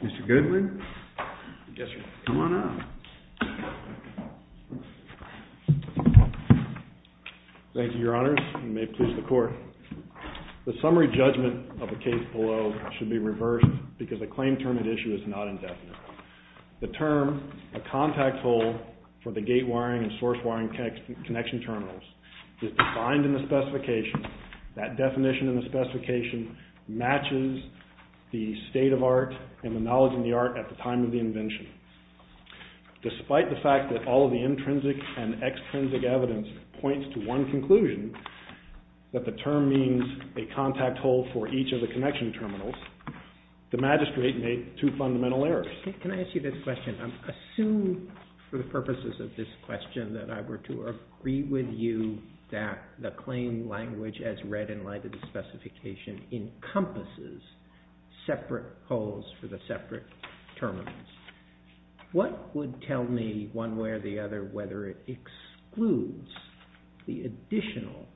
Mr. Goodwin. Yes, sir. Come on up. Thank you, Your Honors. You may please the court. The summary judgment of the case below should be reversed because the claim term and issue is not indefinite. The term, a contact hole for the gate wiring and source wiring connection terminals is defined in the specification. That definition in the specification matches the state of art and the knowledge in the art at the time of the invention. Despite the fact that all of the intrinsic and extrinsic evidence points to one conclusion, that the Can I ask you this question? Assume for the purposes of this question that I were to agree with you that the claim language as read in light of the specification encompasses separate holes for the separate terminals. What would tell me one way or the other whether it excludes the additional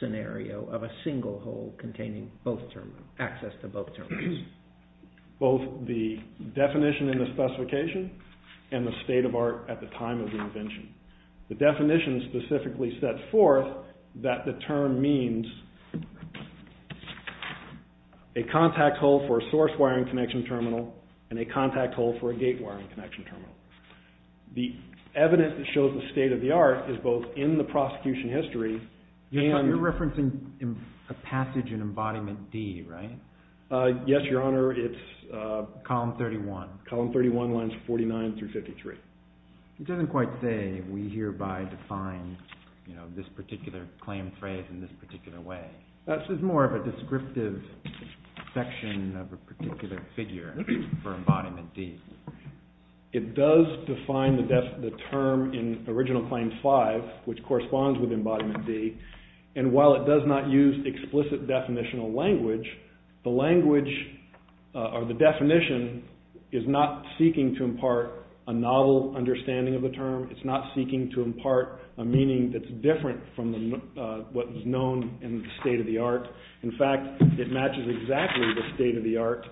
scenario of a single hole containing both terminals, access to both terminals? Includes both the definition in the specification and the state of art at the time of the invention. The definition specifically sets forth that the term means a contact hole for a source wiring connection terminal and a contact hole for a gate wiring connection terminal. The evidence that shows the state of the art is both in the prosecution history and You're correct, Your Honor. It's column 31. Column 31 lines 49 through 53. It doesn't quite say we hereby define this particular claim phrase in this particular way. This is more of a descriptive section of a particular figure for embodiment D. It does define the term in original claim 5, which corresponds with embodiment D, and while it does not use explicit definitional language, the language or the definition is not seeking to impart a novel understanding of the term. It's not seeking to impart a meaning that's different from what is known in the state of the art. In fact, it matches exactly the state of the art,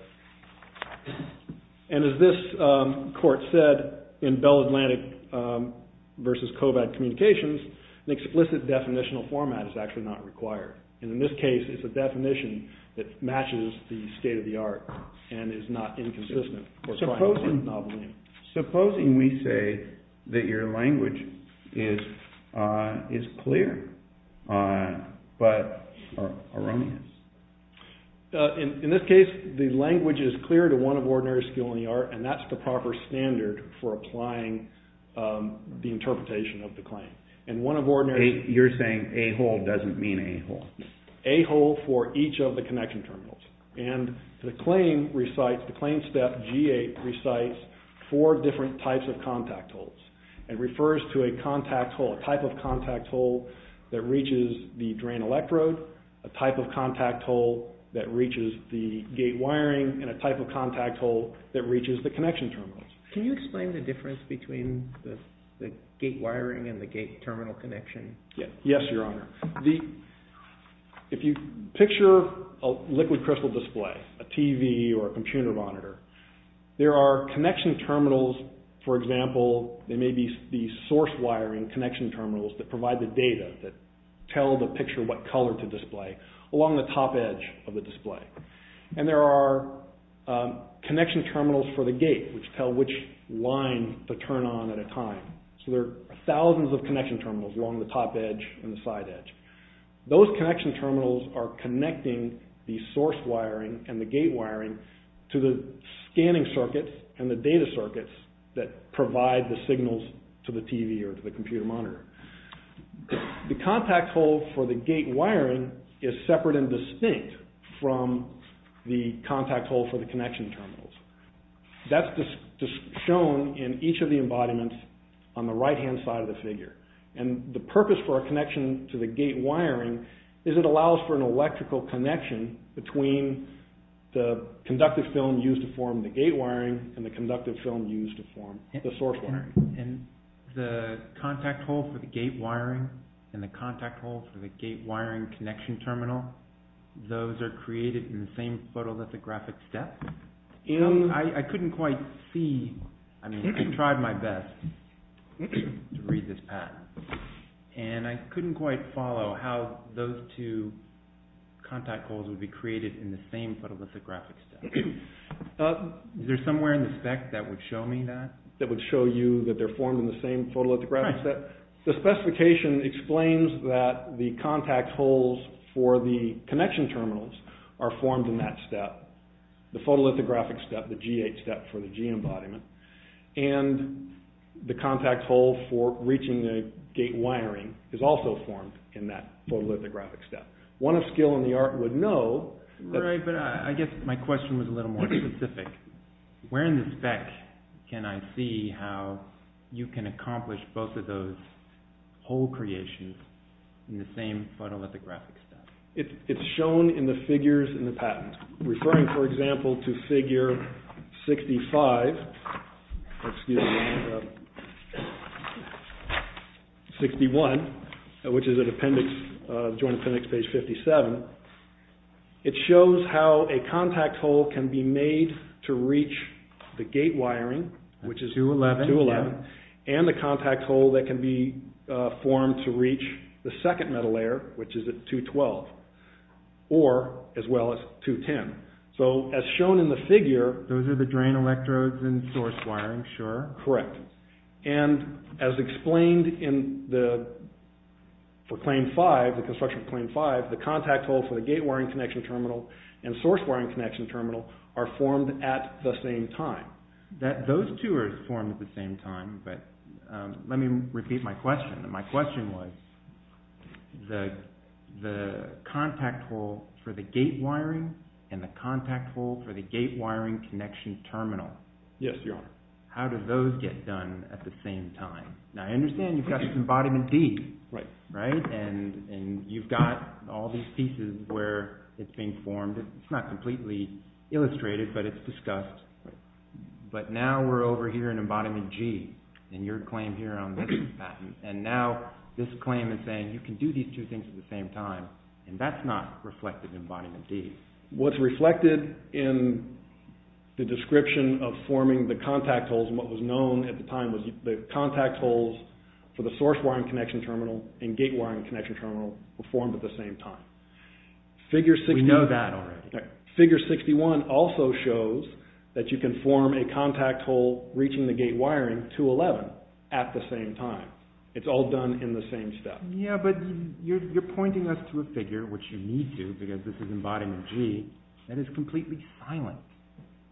and as this court said in Bell Atlantic versus Kovad Communications, an explicit definitional format is actually not required, and in this case, it's a definition that matches the state of the art and is not inconsistent or trying to put a novel in. Supposing we say that your language is clear, but erroneous. In this case, the language is clear to one of ordinary skill in the art, and that's the proper standard for applying the interpretation of the claim, and one of ordinary... You're saying A-hole doesn't mean A-hole. A-hole for each of the connection terminals, and the claim recites, the claim step G-8 recites four different types of contact holes. It refers to a contact hole, a type of contact hole that reaches the drain electrode, a type of contact hole that reaches the gate wiring, and a type of contact hole that reaches the connection terminals. Can you explain the difference between the gate wiring and the gate terminal connection? Yes, your honor. If you picture a liquid crystal display, a TV or a computer monitor, there are connection terminals, for example, they may be the source wiring connection terminals that provide the data that tell the picture what color to display along the top edge of the display, and there are connection terminals for the gate, which tell which line to turn on at a time. So there are thousands of connection terminals along the top edge and the side edge. Those connection terminals are connecting the source wiring and the gate wiring to the scanning circuits and the data circuits that provide the signals to the TV or to the computer monitor. The contact hole for the gate wiring is separate and distinct from the contact hole for the connection terminals. That's shown in each of the embodiments on the right-hand side of the figure, and the purpose for a connection to the gate wiring is it allows for an electrical connection between the conductive film used to form the gate wiring and the conductive film used to form the source wiring. And the contact hole for the gate wiring and the contact hole for the gate wiring connection terminal, those are created in the same photolithographic step? I couldn't quite see, I mean, I tried my best to read this path, and I couldn't quite follow how those two contact holes would be created in the same photolithographic step. Is there somewhere in the spec that would show me that? That would show you that they're formed in the same photolithographic step? Right. The specification explains that the contact holes for the connection terminals are formed in that step, the photolithographic step, the G8 step for the G embodiment, and the contact hole for reaching the gate wiring is also formed in that photolithographic step. One of skill in the art would know that... Right, but I guess my question was a little more specific. Where in the spec can I see how you can accomplish both of those hole creations in the same photolithographic step? It's shown in the figures in the patent. Referring, for example, to figure 65, excuse me, 61, which is at Appendix, Joint Appendix page 57, it shows how a contact hole can be made to reach the gate wiring, which is 211, and the contact hole that can be formed to reach the second metal layer, which is at 212, or as well as 210. So, as shown in the figure... Those are the drain electrodes and source wiring, sure? Correct, and as explained for Claim 5, the construction of Claim 5, the contact hole for the gate wiring connection terminal and source wiring connection terminal are formed at the same time. Those two are formed at the same time, but let me repeat my question. My question was the contact hole for the gate wiring and the contact hole for the gate wiring connection terminal. Yes, Your Honor. How do those get done at the same time? Now, I understand you've got Embodiment D, right? And you've got all these pieces where it's being formed. It's not completely illustrated, but it's discussed. But now we're over here in Embodiment G, and your claim here on this patent, and now this claim is saying you can do these two things at the same time, and that's not reflected in Embodiment D. What's reflected in the description of forming the contact holes, and what was known at the time was the contact holes for the source wiring connection terminal and gate wiring connection terminal were formed at the same time. We know that already. Figure 61 also shows that you can form a contact hole reaching the gate wiring to 11 at the same time. It's all done in the same step. Yeah, but you're pointing us to a figure, which you need to, because this is Embodiment G, that is completely silent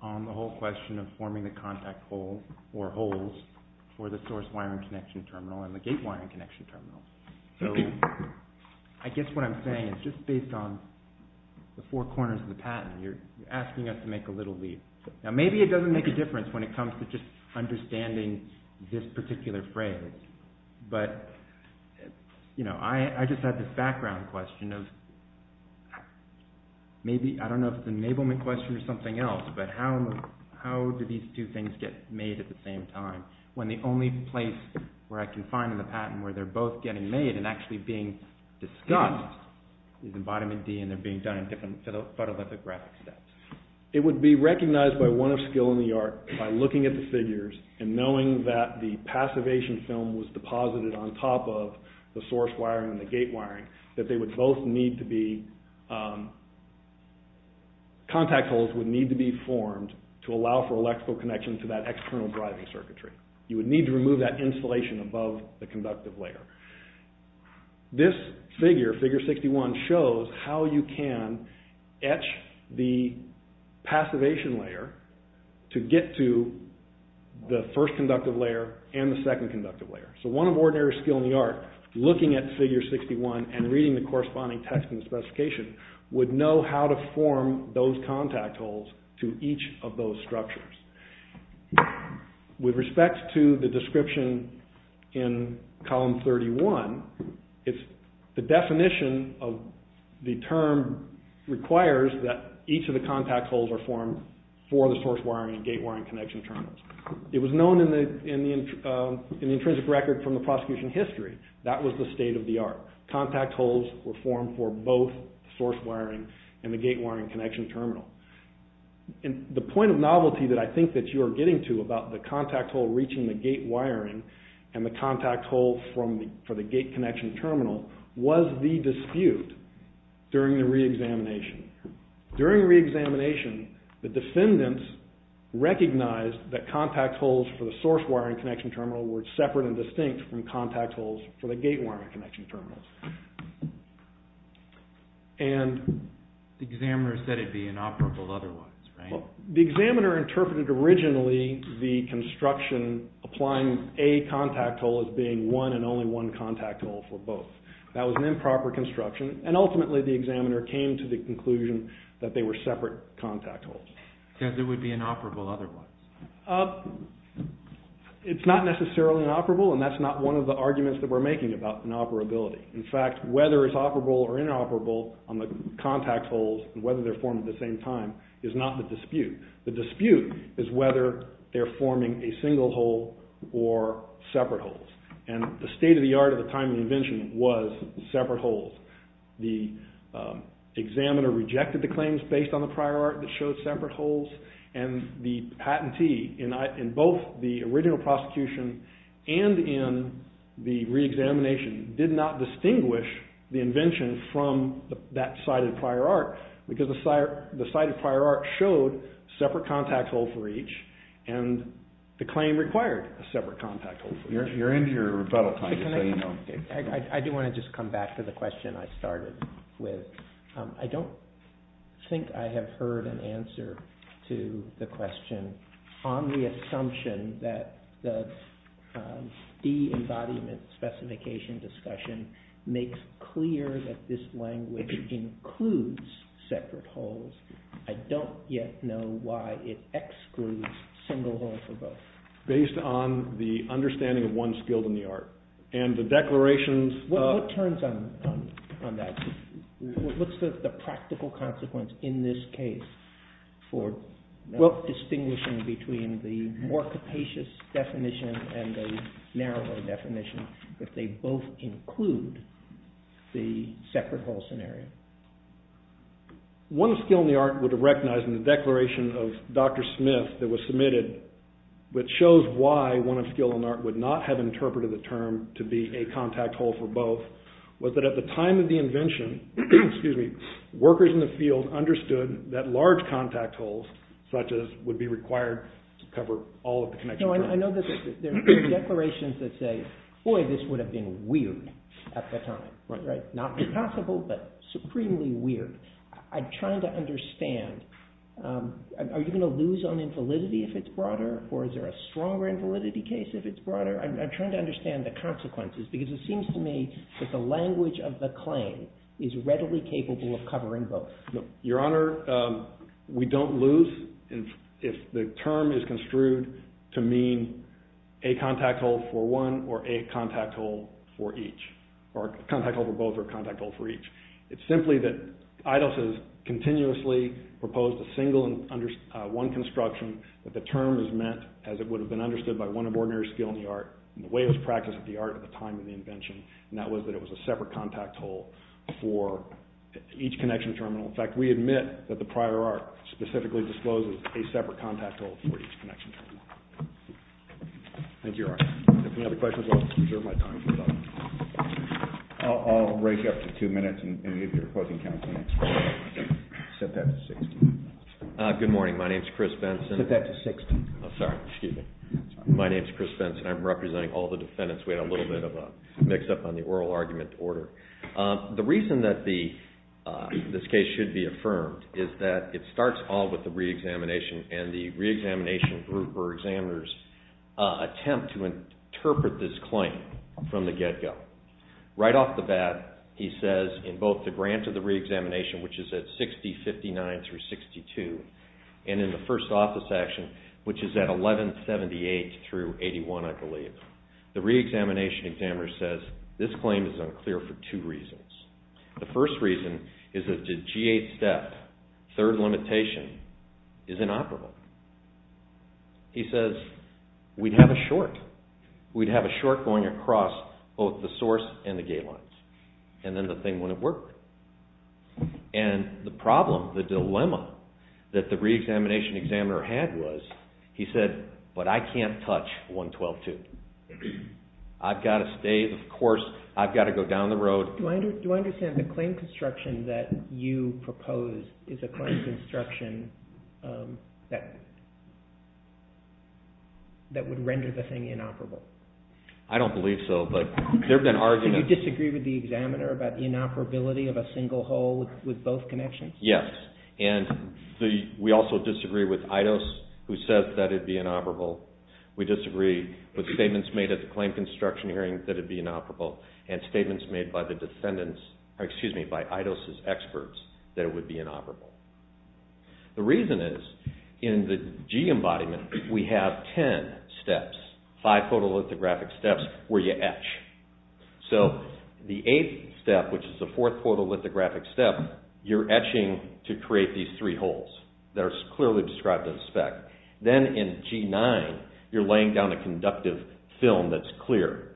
on the whole question of forming the contact hole or holes for the source wiring connection terminal and the gate wiring connection terminal. So, I guess what I'm saying is just based on the four corners of the patent, you're asking us to make a little leap. Now, maybe it doesn't make a difference when it comes to just understanding this particular phrase, but I just had this background question of maybe, I don't know if it's an enablement question or something else, but how do these two things get made at the same time when the only place where I can find in the patent where they're both getting made and actually being discussed is Embodiment D and they're being done in different photolithographic steps. It would be recognized by one of skill in the art by looking at the figures and knowing that the passivation film was deposited on top of the source wiring and the gate wiring that they would both need to be, contact holes would need to be formed to allow for electrical connection to that external driving circuitry. You would need to remove that insulation above the conductive layer. This figure, figure 61, shows how you can etch the passivation layer to get to the first conductive layer and the second conductive layer. So, one of ordinary skill in the art, looking at figure 61 and reading the corresponding text in the specification, would know how to form those contact holes to each of those structures. With respect to the description in column 31, the definition of the term requires that each of the contact holes are formed for the source wiring and gate wiring connection terminals. It was known in the intrinsic record from the prosecution history. That was the state of the art. Contact holes were formed for both source wiring and the gate wiring connection terminal. The point of novelty that I think that you are getting to about the contact hole reaching the gate wiring and the contact hole for the gate connection terminal was the dispute during the re-examination. During re-examination, the defendants recognized that contact holes for the source wiring connection terminal were separate and distinct from contact holes. The examiner said it would be inoperable otherwise, right? The examiner interpreted originally the construction applying a contact hole as being one and only one contact hole for both. That was an improper construction and ultimately the examiner came to the conclusion that they were separate contact holes. He said it would be inoperable otherwise. It's not necessarily inoperable and that's not one of the arguments that we're making about inoperability. In fact, whether it's operable or inoperable on the contact holes and whether they're formed at the same time is not the dispute. The dispute is whether they're forming a single hole or separate holes. The state of the art at the time of the invention was separate holes. The examiner rejected the claims based on the prior art that showed separate holes and the patentee in both the original prosecution and in the re-examination did not distinguish the invention from that cited prior art because the cited prior art showed separate contact holes for each and the claim required a separate contact hole for each. You're into your rebuttal time. I do want to just come back to the question I started with. I don't think I have heard an answer to the question on the assumption that the de-embodiment specification discussion makes clear that this language includes separate holes. I don't yet know why it excludes single holes for both. Based on the understanding of one's skill in the art and the declarations... What turns on that? What's the practical consequence in this case for not distinguishing between the more capacious definition and the narrower definition if they both include the separate hole scenario? One skill in the art would have recognized in the declaration of Dr. Smith that was submitted which shows why one of skill in the art would not have interpreted the term to be a contact hole for both was that at the time of the invention, workers in the field understood that large contact holes such as would be required to cover all of the connection. I know that there are declarations that say, boy this would have been weird at the time. Not impossible but supremely weird. I'm trying to understand, are you going to lose on infelicity if it's broader or is there a stronger infelicity case if it's broader? I'm trying to understand the consequences because it seems to me that the language of the claim is readily capable of covering both. Your Honor, we don't lose if the term is construed to mean a contact hole for one or a contact hole for each or a contact hole for both or a contact hole for each. It's simply that Eidos has continuously proposed a single one construction that the term is meant as it would have been understood by one of ordinary skill in the art and the way it was practiced at the art at the time of the invention and that was that it was a separate contact hole for each connection terminal. In fact, we admit that the prior art specifically discloses a separate contact hole for each connection terminal. Thank you, Your Honor. If you have any other questions, I'll reserve my time for them. I'll break up to two minutes and if you're opposing counsel next floor, set that to 60. Good morning, my name is Chris Benson. Set that to 60. I'm sorry, excuse me. My name is Chris Benson. I'm representing all the defendants. We had a little bit of a mix up on the oral argument order. The reason that this case should be affirmed is that it starts all with the reexamination and the reexamination group or examiners attempt to interpret this claim from the get-go. Right off the bat, he says in both the grant of reexamination, which is at 60-59-62, and in the first office action, which is at 11-78-81, I believe, the reexamination examiner says this claim is unclear for two reasons. The first reason is that the G8 step, third limitation, is inoperable. He says, we'd have a short. We'd have a short going across both the source and the gate lines and then the thing wouldn't work. And the problem, the dilemma, that the reexamination examiner had was, he said, but I can't touch 112-2. I've got to stay, of course, I've got to go down the road. Do I understand the claim construction that you propose is a claim construction that would render the thing inoperable? I don't believe so, but there have been arguments. So you disagree with the examiner about the inoperability of a single hole with both connections? Yes, and we also disagree with Eidos who says that it would be inoperable. We disagree with statements made at the claim construction hearing that it would be inoperable and statements made by the defendants, excuse me, by Eidos' experts that it would be inoperable. The reason is, in the G embodiment, we have 10 steps, 5 photolithographic steps where you etch. So the 8th step, which is the 4th photolithographic step, you're etching to create these 3 holes that are clearly described in the spec. Then in G9, you're laying down a conductive film that's clear.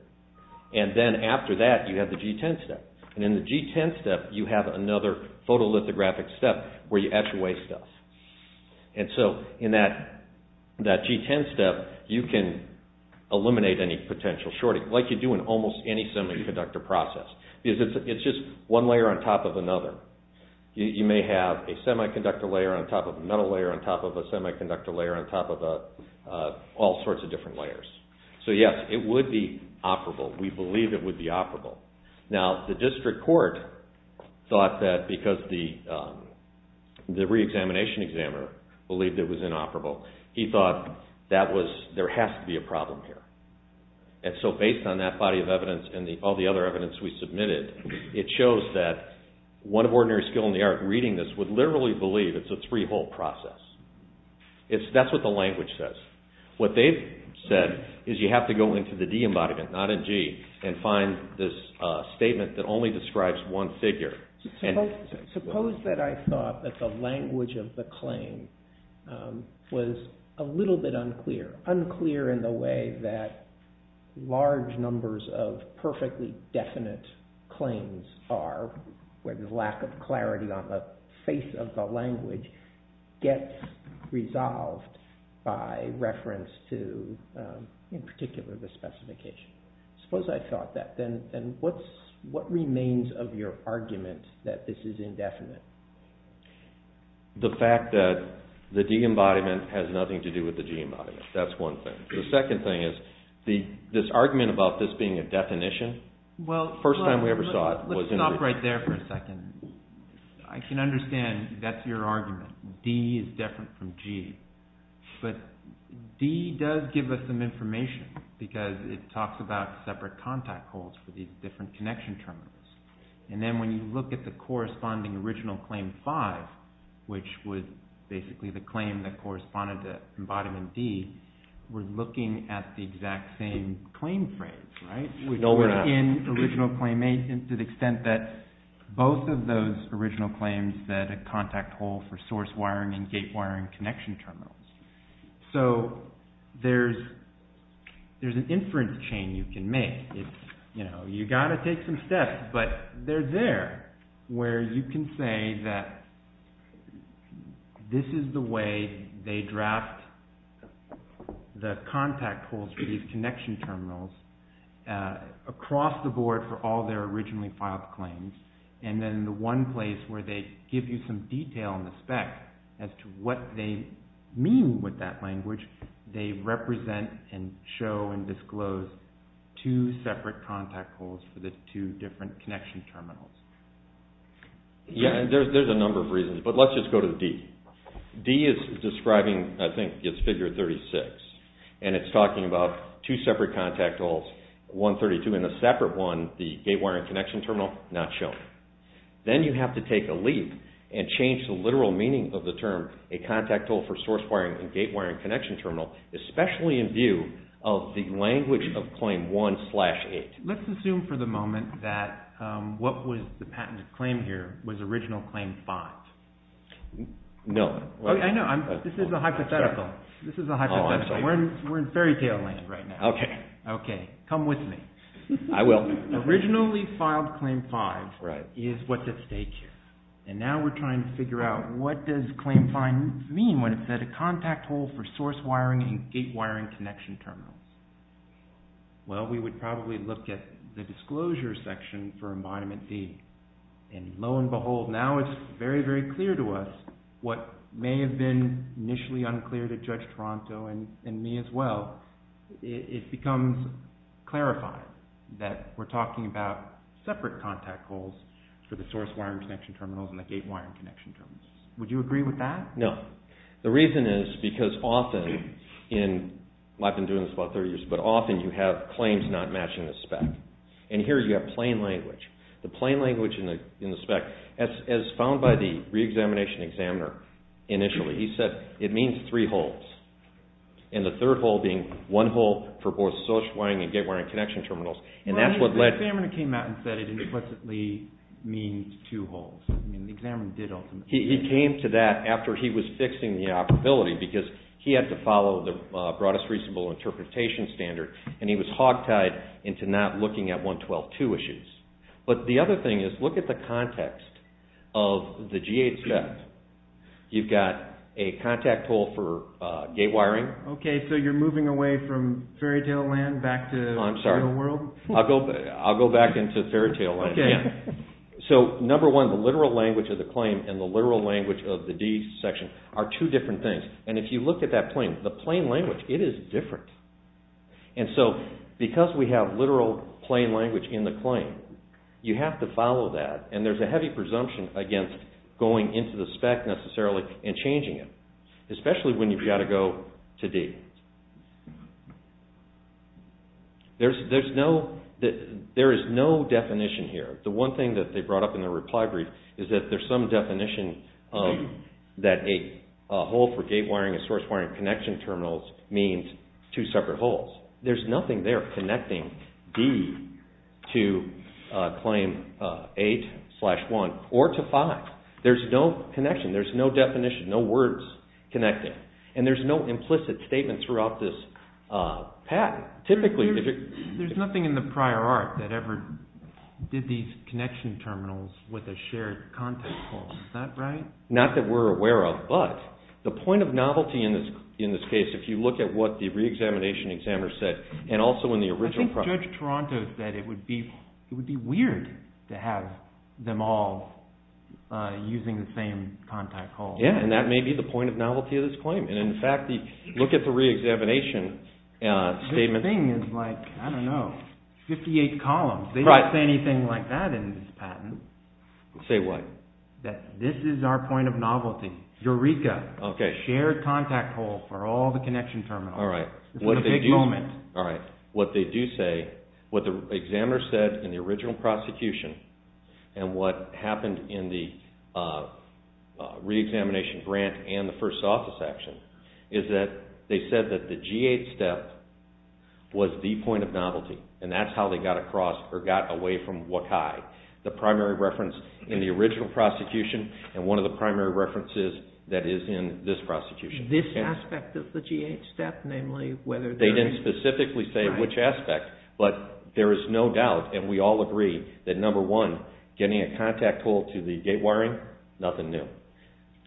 And then after that, you have the G10 step. And in the G10 step, you have another photolithographic step where you etch away stuff. And so in that G10 step, you can eliminate any potential shorting, like you do in almost any semiconductor process. It's just one layer on top of another. You may have a semiconductor layer on top of a metal layer on top of a semiconductor layer on top of all sorts of different layers. So yes, it would be operable. We believe it would be operable. Now, the district court thought that because the re-examination examiner believed it was inoperable, he thought there has to be a problem here. And so based on that body of evidence and all the other evidence we submitted, it shows that one of ordinary skill in the art reading this would literally believe it's a 3-hole process. That's what the language says. What they've said is you have to go into the D embodiment, not in G, and find this statement that only describes one figure. Suppose that I thought that the language of the claim was a little bit unclear, unclear in the way that large numbers of perfectly definite claims are, where the lack of clarity on the face of the language gets resolved by reference to, in particular, the specification. Suppose I thought that, then what remains of your argument that this is indefinite? The fact that the D embodiment has nothing to do with the G embodiment. That's one thing. The second thing is this argument about this being a definition, the first time we ever thought… Let's stop right there for a second. I can understand that's your argument. D is different from G. But D does give us some information because it talks about separate contact holes for these different connection terminals. And then when you look at the corresponding original claim 5, which was basically the claim that corresponded to embodiment D, we're looking at the exact same claim phrase, right? No, we're not. We're not in original claim 8 to the extent that both of those original claims said a contact hole for source wiring and gate wiring connection terminals. So there's an inference chain you can make. You've got to take some steps, but they're there where you can say that this is the way they draft the contact holes for these connection terminals across the board for all their originally filed claims. And then the one place where they give you some detail in the spec as to what they mean with that language, they represent and show and disclose two separate contact holes for the two different connection terminals. Yeah, there's a number of reasons, but let's just go to D. D is describing, I think, it's figure 36. And it's talking about two separate contact holes, 132 and a separate one, the gate wiring connection terminal, not shown. Then you have to take a leap and change the literal meaning of the term, a contact hole for source wiring and gate wiring connection terminal, especially in view of the language of claim 1-8. Let's assume for the moment that what was the patented claim here was original claim 5. No. I know. This is a hypothetical. This is a hypothetical. We're in fairy tale land right now. Okay. Okay. Come with me. I will. Originally filed claim 5 is what's at stake here. And now we're trying to figure out what does claim 5 mean when it said a contact hole for source wiring and gate wiring connection terminals. Well, we would probably look at the disclosure section for environment D. And lo and behold, now it's very, very clear to us what may have been initially unclear to Judge Toronto and me as well. It becomes clarified that we're talking about separate contact holes for the source wiring connection terminals and the gate wiring connection terminals. Would you agree with that? No. The reason is because often, and I've been doing this for about 30 years, but often you have claims not matching the spec. And here you have plain language. The plain language in the spec, as found by the reexamination examiner initially, he said it means three holes. And the third hole being one hole for both source wiring and gate wiring connection terminals. Well, the examiner came out and said it implicitly means two holes. I mean, the examiner did ultimately. He came to that after he was fixing the operability because he had to follow the broadest reasonable interpretation standard and he was hogtied into not looking at 112.2 issues. But the other thing is, look at the context of the G8 spec. You've got a contact hole for gate wiring. Okay, so you're moving away from fairytale land back to the real world? I'm sorry. I'll go back into fairytale land again. Okay. So, number one, the literal language of the claim and the literal language of the D section are two different things. And if you look at that plain, the plain language, it is different. And so, because we have literal plain language in the claim, you have to follow that and there's a heavy presumption against going into the spec necessarily and changing it, especially when you've got to go to D. There is no definition here. The one thing that they brought up in the reply brief is that there's some definition that a hole for gate wiring and source wiring connection terminals means two separate holes. There's nothing there connecting D to claim 8 slash 1 or to 5. There's no connection. There's no definition, no words connecting. And there's no implicit statements throughout this patent. There's nothing in the prior art that ever did these connection terminals with a shared contact hole. Is that right? Not that we're aware of, but the point of novelty in this case, if you look at what the re-examination examiner said, and also in the original… I think Judge Toronto said it would be weird to have them all using the same contact hole. Yeah, and that may be the point of novelty of this claim. And in fact, look at the re-examination statement. This thing is like, I don't know, 58 columns. They don't say anything like that in this patent. Say what? That this is our point of novelty. Eureka. Okay. Shared contact hole for all the connection terminals. All right. This is a big moment. All right. What they do say, what the examiner said in the original prosecution and what the re-examination grant and the first office action is that they said that the G8 step was the point of novelty, and that's how they got away from WCAI, the primary reference in the original prosecution and one of the primary references that is in this prosecution. This aspect of the G8 step, namely whether there is… They didn't specifically say which aspect, but there is no doubt, and we all agree, that getting a contact hole to the gate wiring, nothing new.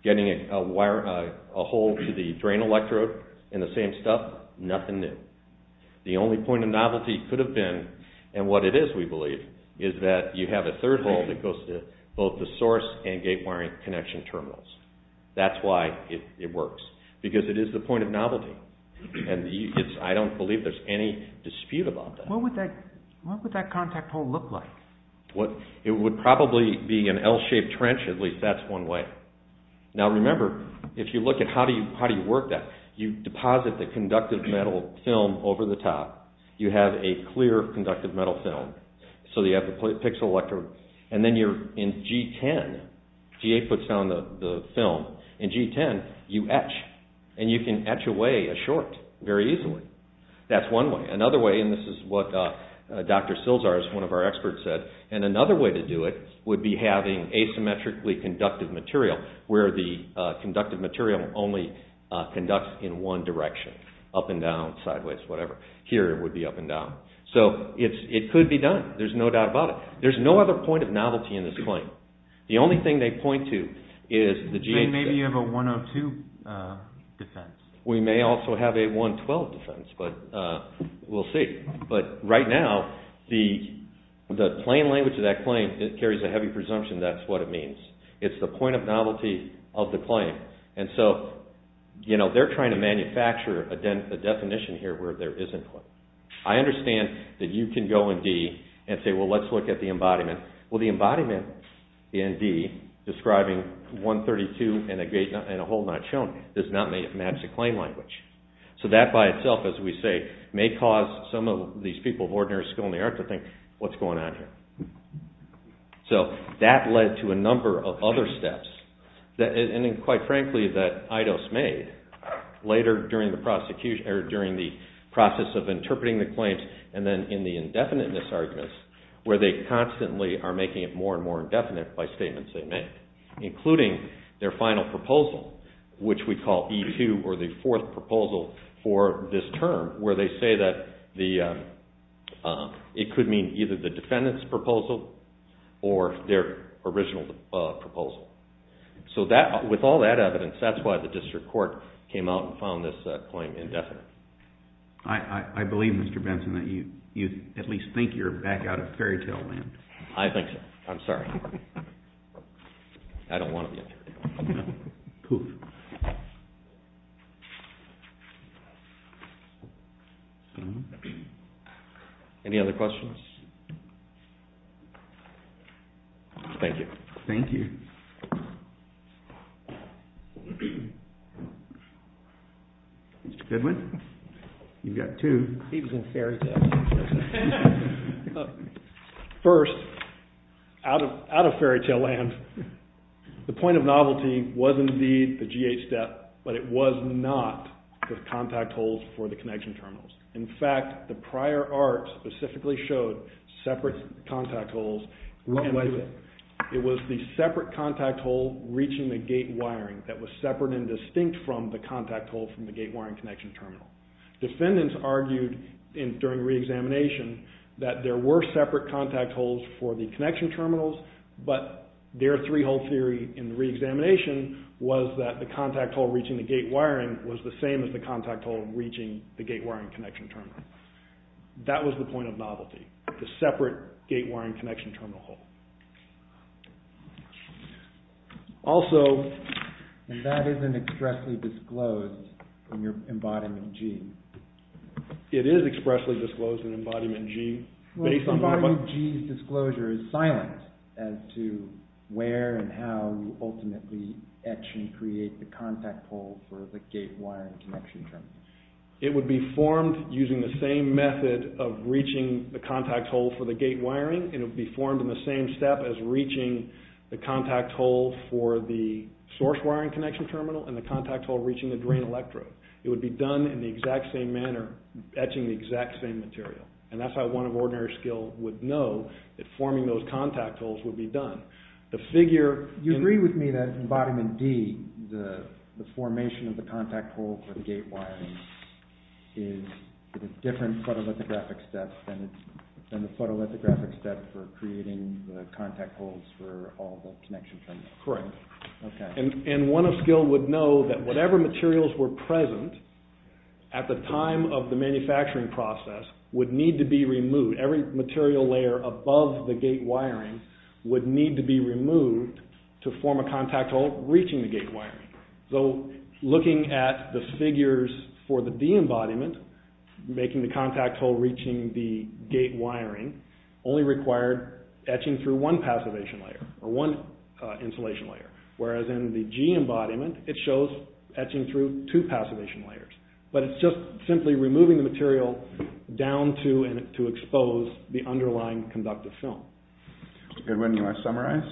Getting a hole to the drain electrode and the same stuff, nothing new. The only point of novelty could have been, and what it is we believe, is that you have a third hole that goes to both the source and gate wiring connection terminals. That's why it works, because it is the point of novelty. And I don't believe there's any dispute about that. What would that contact hole look like? It would probably be an L-shaped trench at least, that's one way. Now remember, if you look at how do you work that, you deposit the conductive metal film over the top, you have a clear conductive metal film, so you have the pixel electrode, and then you're in G10, G8 puts down the film, in G10 you etch, and you can etch away a short very easily, that's one way. Another way, and this is what Dr. Silzar, one of our experts said, and another way to do it would be having asymmetrically conductive material, where the conductive material only conducts in one direction, up and down, sideways, whatever. Here it would be up and down. So it could be done, there's no doubt about it. There's no other point of novelty in this claim. The only thing they point to is the G8... Maybe you have a 102 defense. We may also have a 112 defense, but we'll see. But right now, the plain language of that claim, it carries a heavy presumption that's what it means. It's the point of novelty of the claim. And so, they're trying to manufacture a definition here where there isn't one. I understand that you can go in D and say, well let's look at the embodiment. Well, the embodiment in D, describing 132 and a whole not shown, does not match the claim language. So that by itself, as we say, may cause some of these people of ordinary skill in the art to think, what's going on here? So, that led to a number of other steps. And quite frankly, that Eidos made, later during the process of interpreting the claims and then in the indefiniteness arguments, where they constantly are making it more and more indefinite by statements they make, including their final proposal, which we call E2 or the fourth proposal for this term, where they say that it could mean either the defendant's proposal or their original proposal. So, with all that evidence, that's why the district court came out and found this claim indefinite. I believe, Mr. Benson, that you at least think you're back out of fairytale land. I think so. I'm sorry. I don't want to be in fairytale land. Poof. Any other questions? Thank you. Thank you. Mr. Goodwin, you've got two. He was in fairytale land. First, out of fairytale land, the point of novelty was indeed the G8 step, but it was not the contact holes for the connection terminals. In fact, the prior art specifically showed separate contact holes. What was it? It was the separate contact hole reaching the gate wiring that was separate and distinct from the contact hole from the gate wiring connection terminal. Defendants argued during the re-examination that there were separate contact holes for the connection terminals, but their three-hole theory in the re-examination was that the contact hole reaching the gate wiring was the same as the contact hole reaching the gate wiring connection terminal. That was the point of novelty, the separate gate wiring connection terminal hole. Also... And that isn't expressly disclosed in your Embodiment G. It is expressly disclosed in Embodiment G. Well, Embodiment G's disclosure is silent as to where and how you ultimately etch and create the contact hole for the gate wiring connection terminal. It would be formed using the same method of reaching the contact hole for the gate wiring. It would be formed in the same step as reaching the contact hole for the source wiring connection terminal and the contact hole reaching the drain electrode. It would be done in the exact same manner, etching the exact same material. And that's how one of ordinary skill would know that forming those contact holes would be done. The figure... You agree with me that in Embodiment D, the formation of the contact hole for the gate wiring... Correct. Okay. And one of skill would know that whatever materials were present at the time of the manufacturing process would need to be removed. Every material layer above the gate wiring would need to be removed to form a contact hole reaching the gate wiring. So looking at the figures for the de-embodiment, making the contact hole reaching the gate wiring only required etching through one passivation layer or one insulation layer. Whereas in the G embodiment, it shows etching through two passivation layers. But it's just simply removing the material down to expose the underlying conductive film. Goodwin, you want to summarize?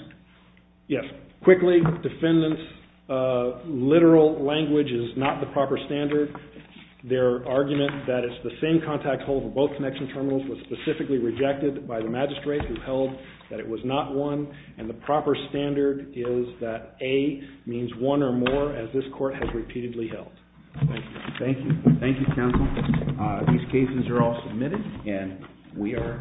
Yes. Quickly, defendants' literal language is not the proper standard. Their argument that it's the same contact hole for both connection terminals was specifically rejected by the magistrate who held that it was not one. And the proper standard is that A means one or more as this court has repeatedly held. Thank you. Thank you. Thank you, counsel. These cases are all submitted and we are adjourned. All rise.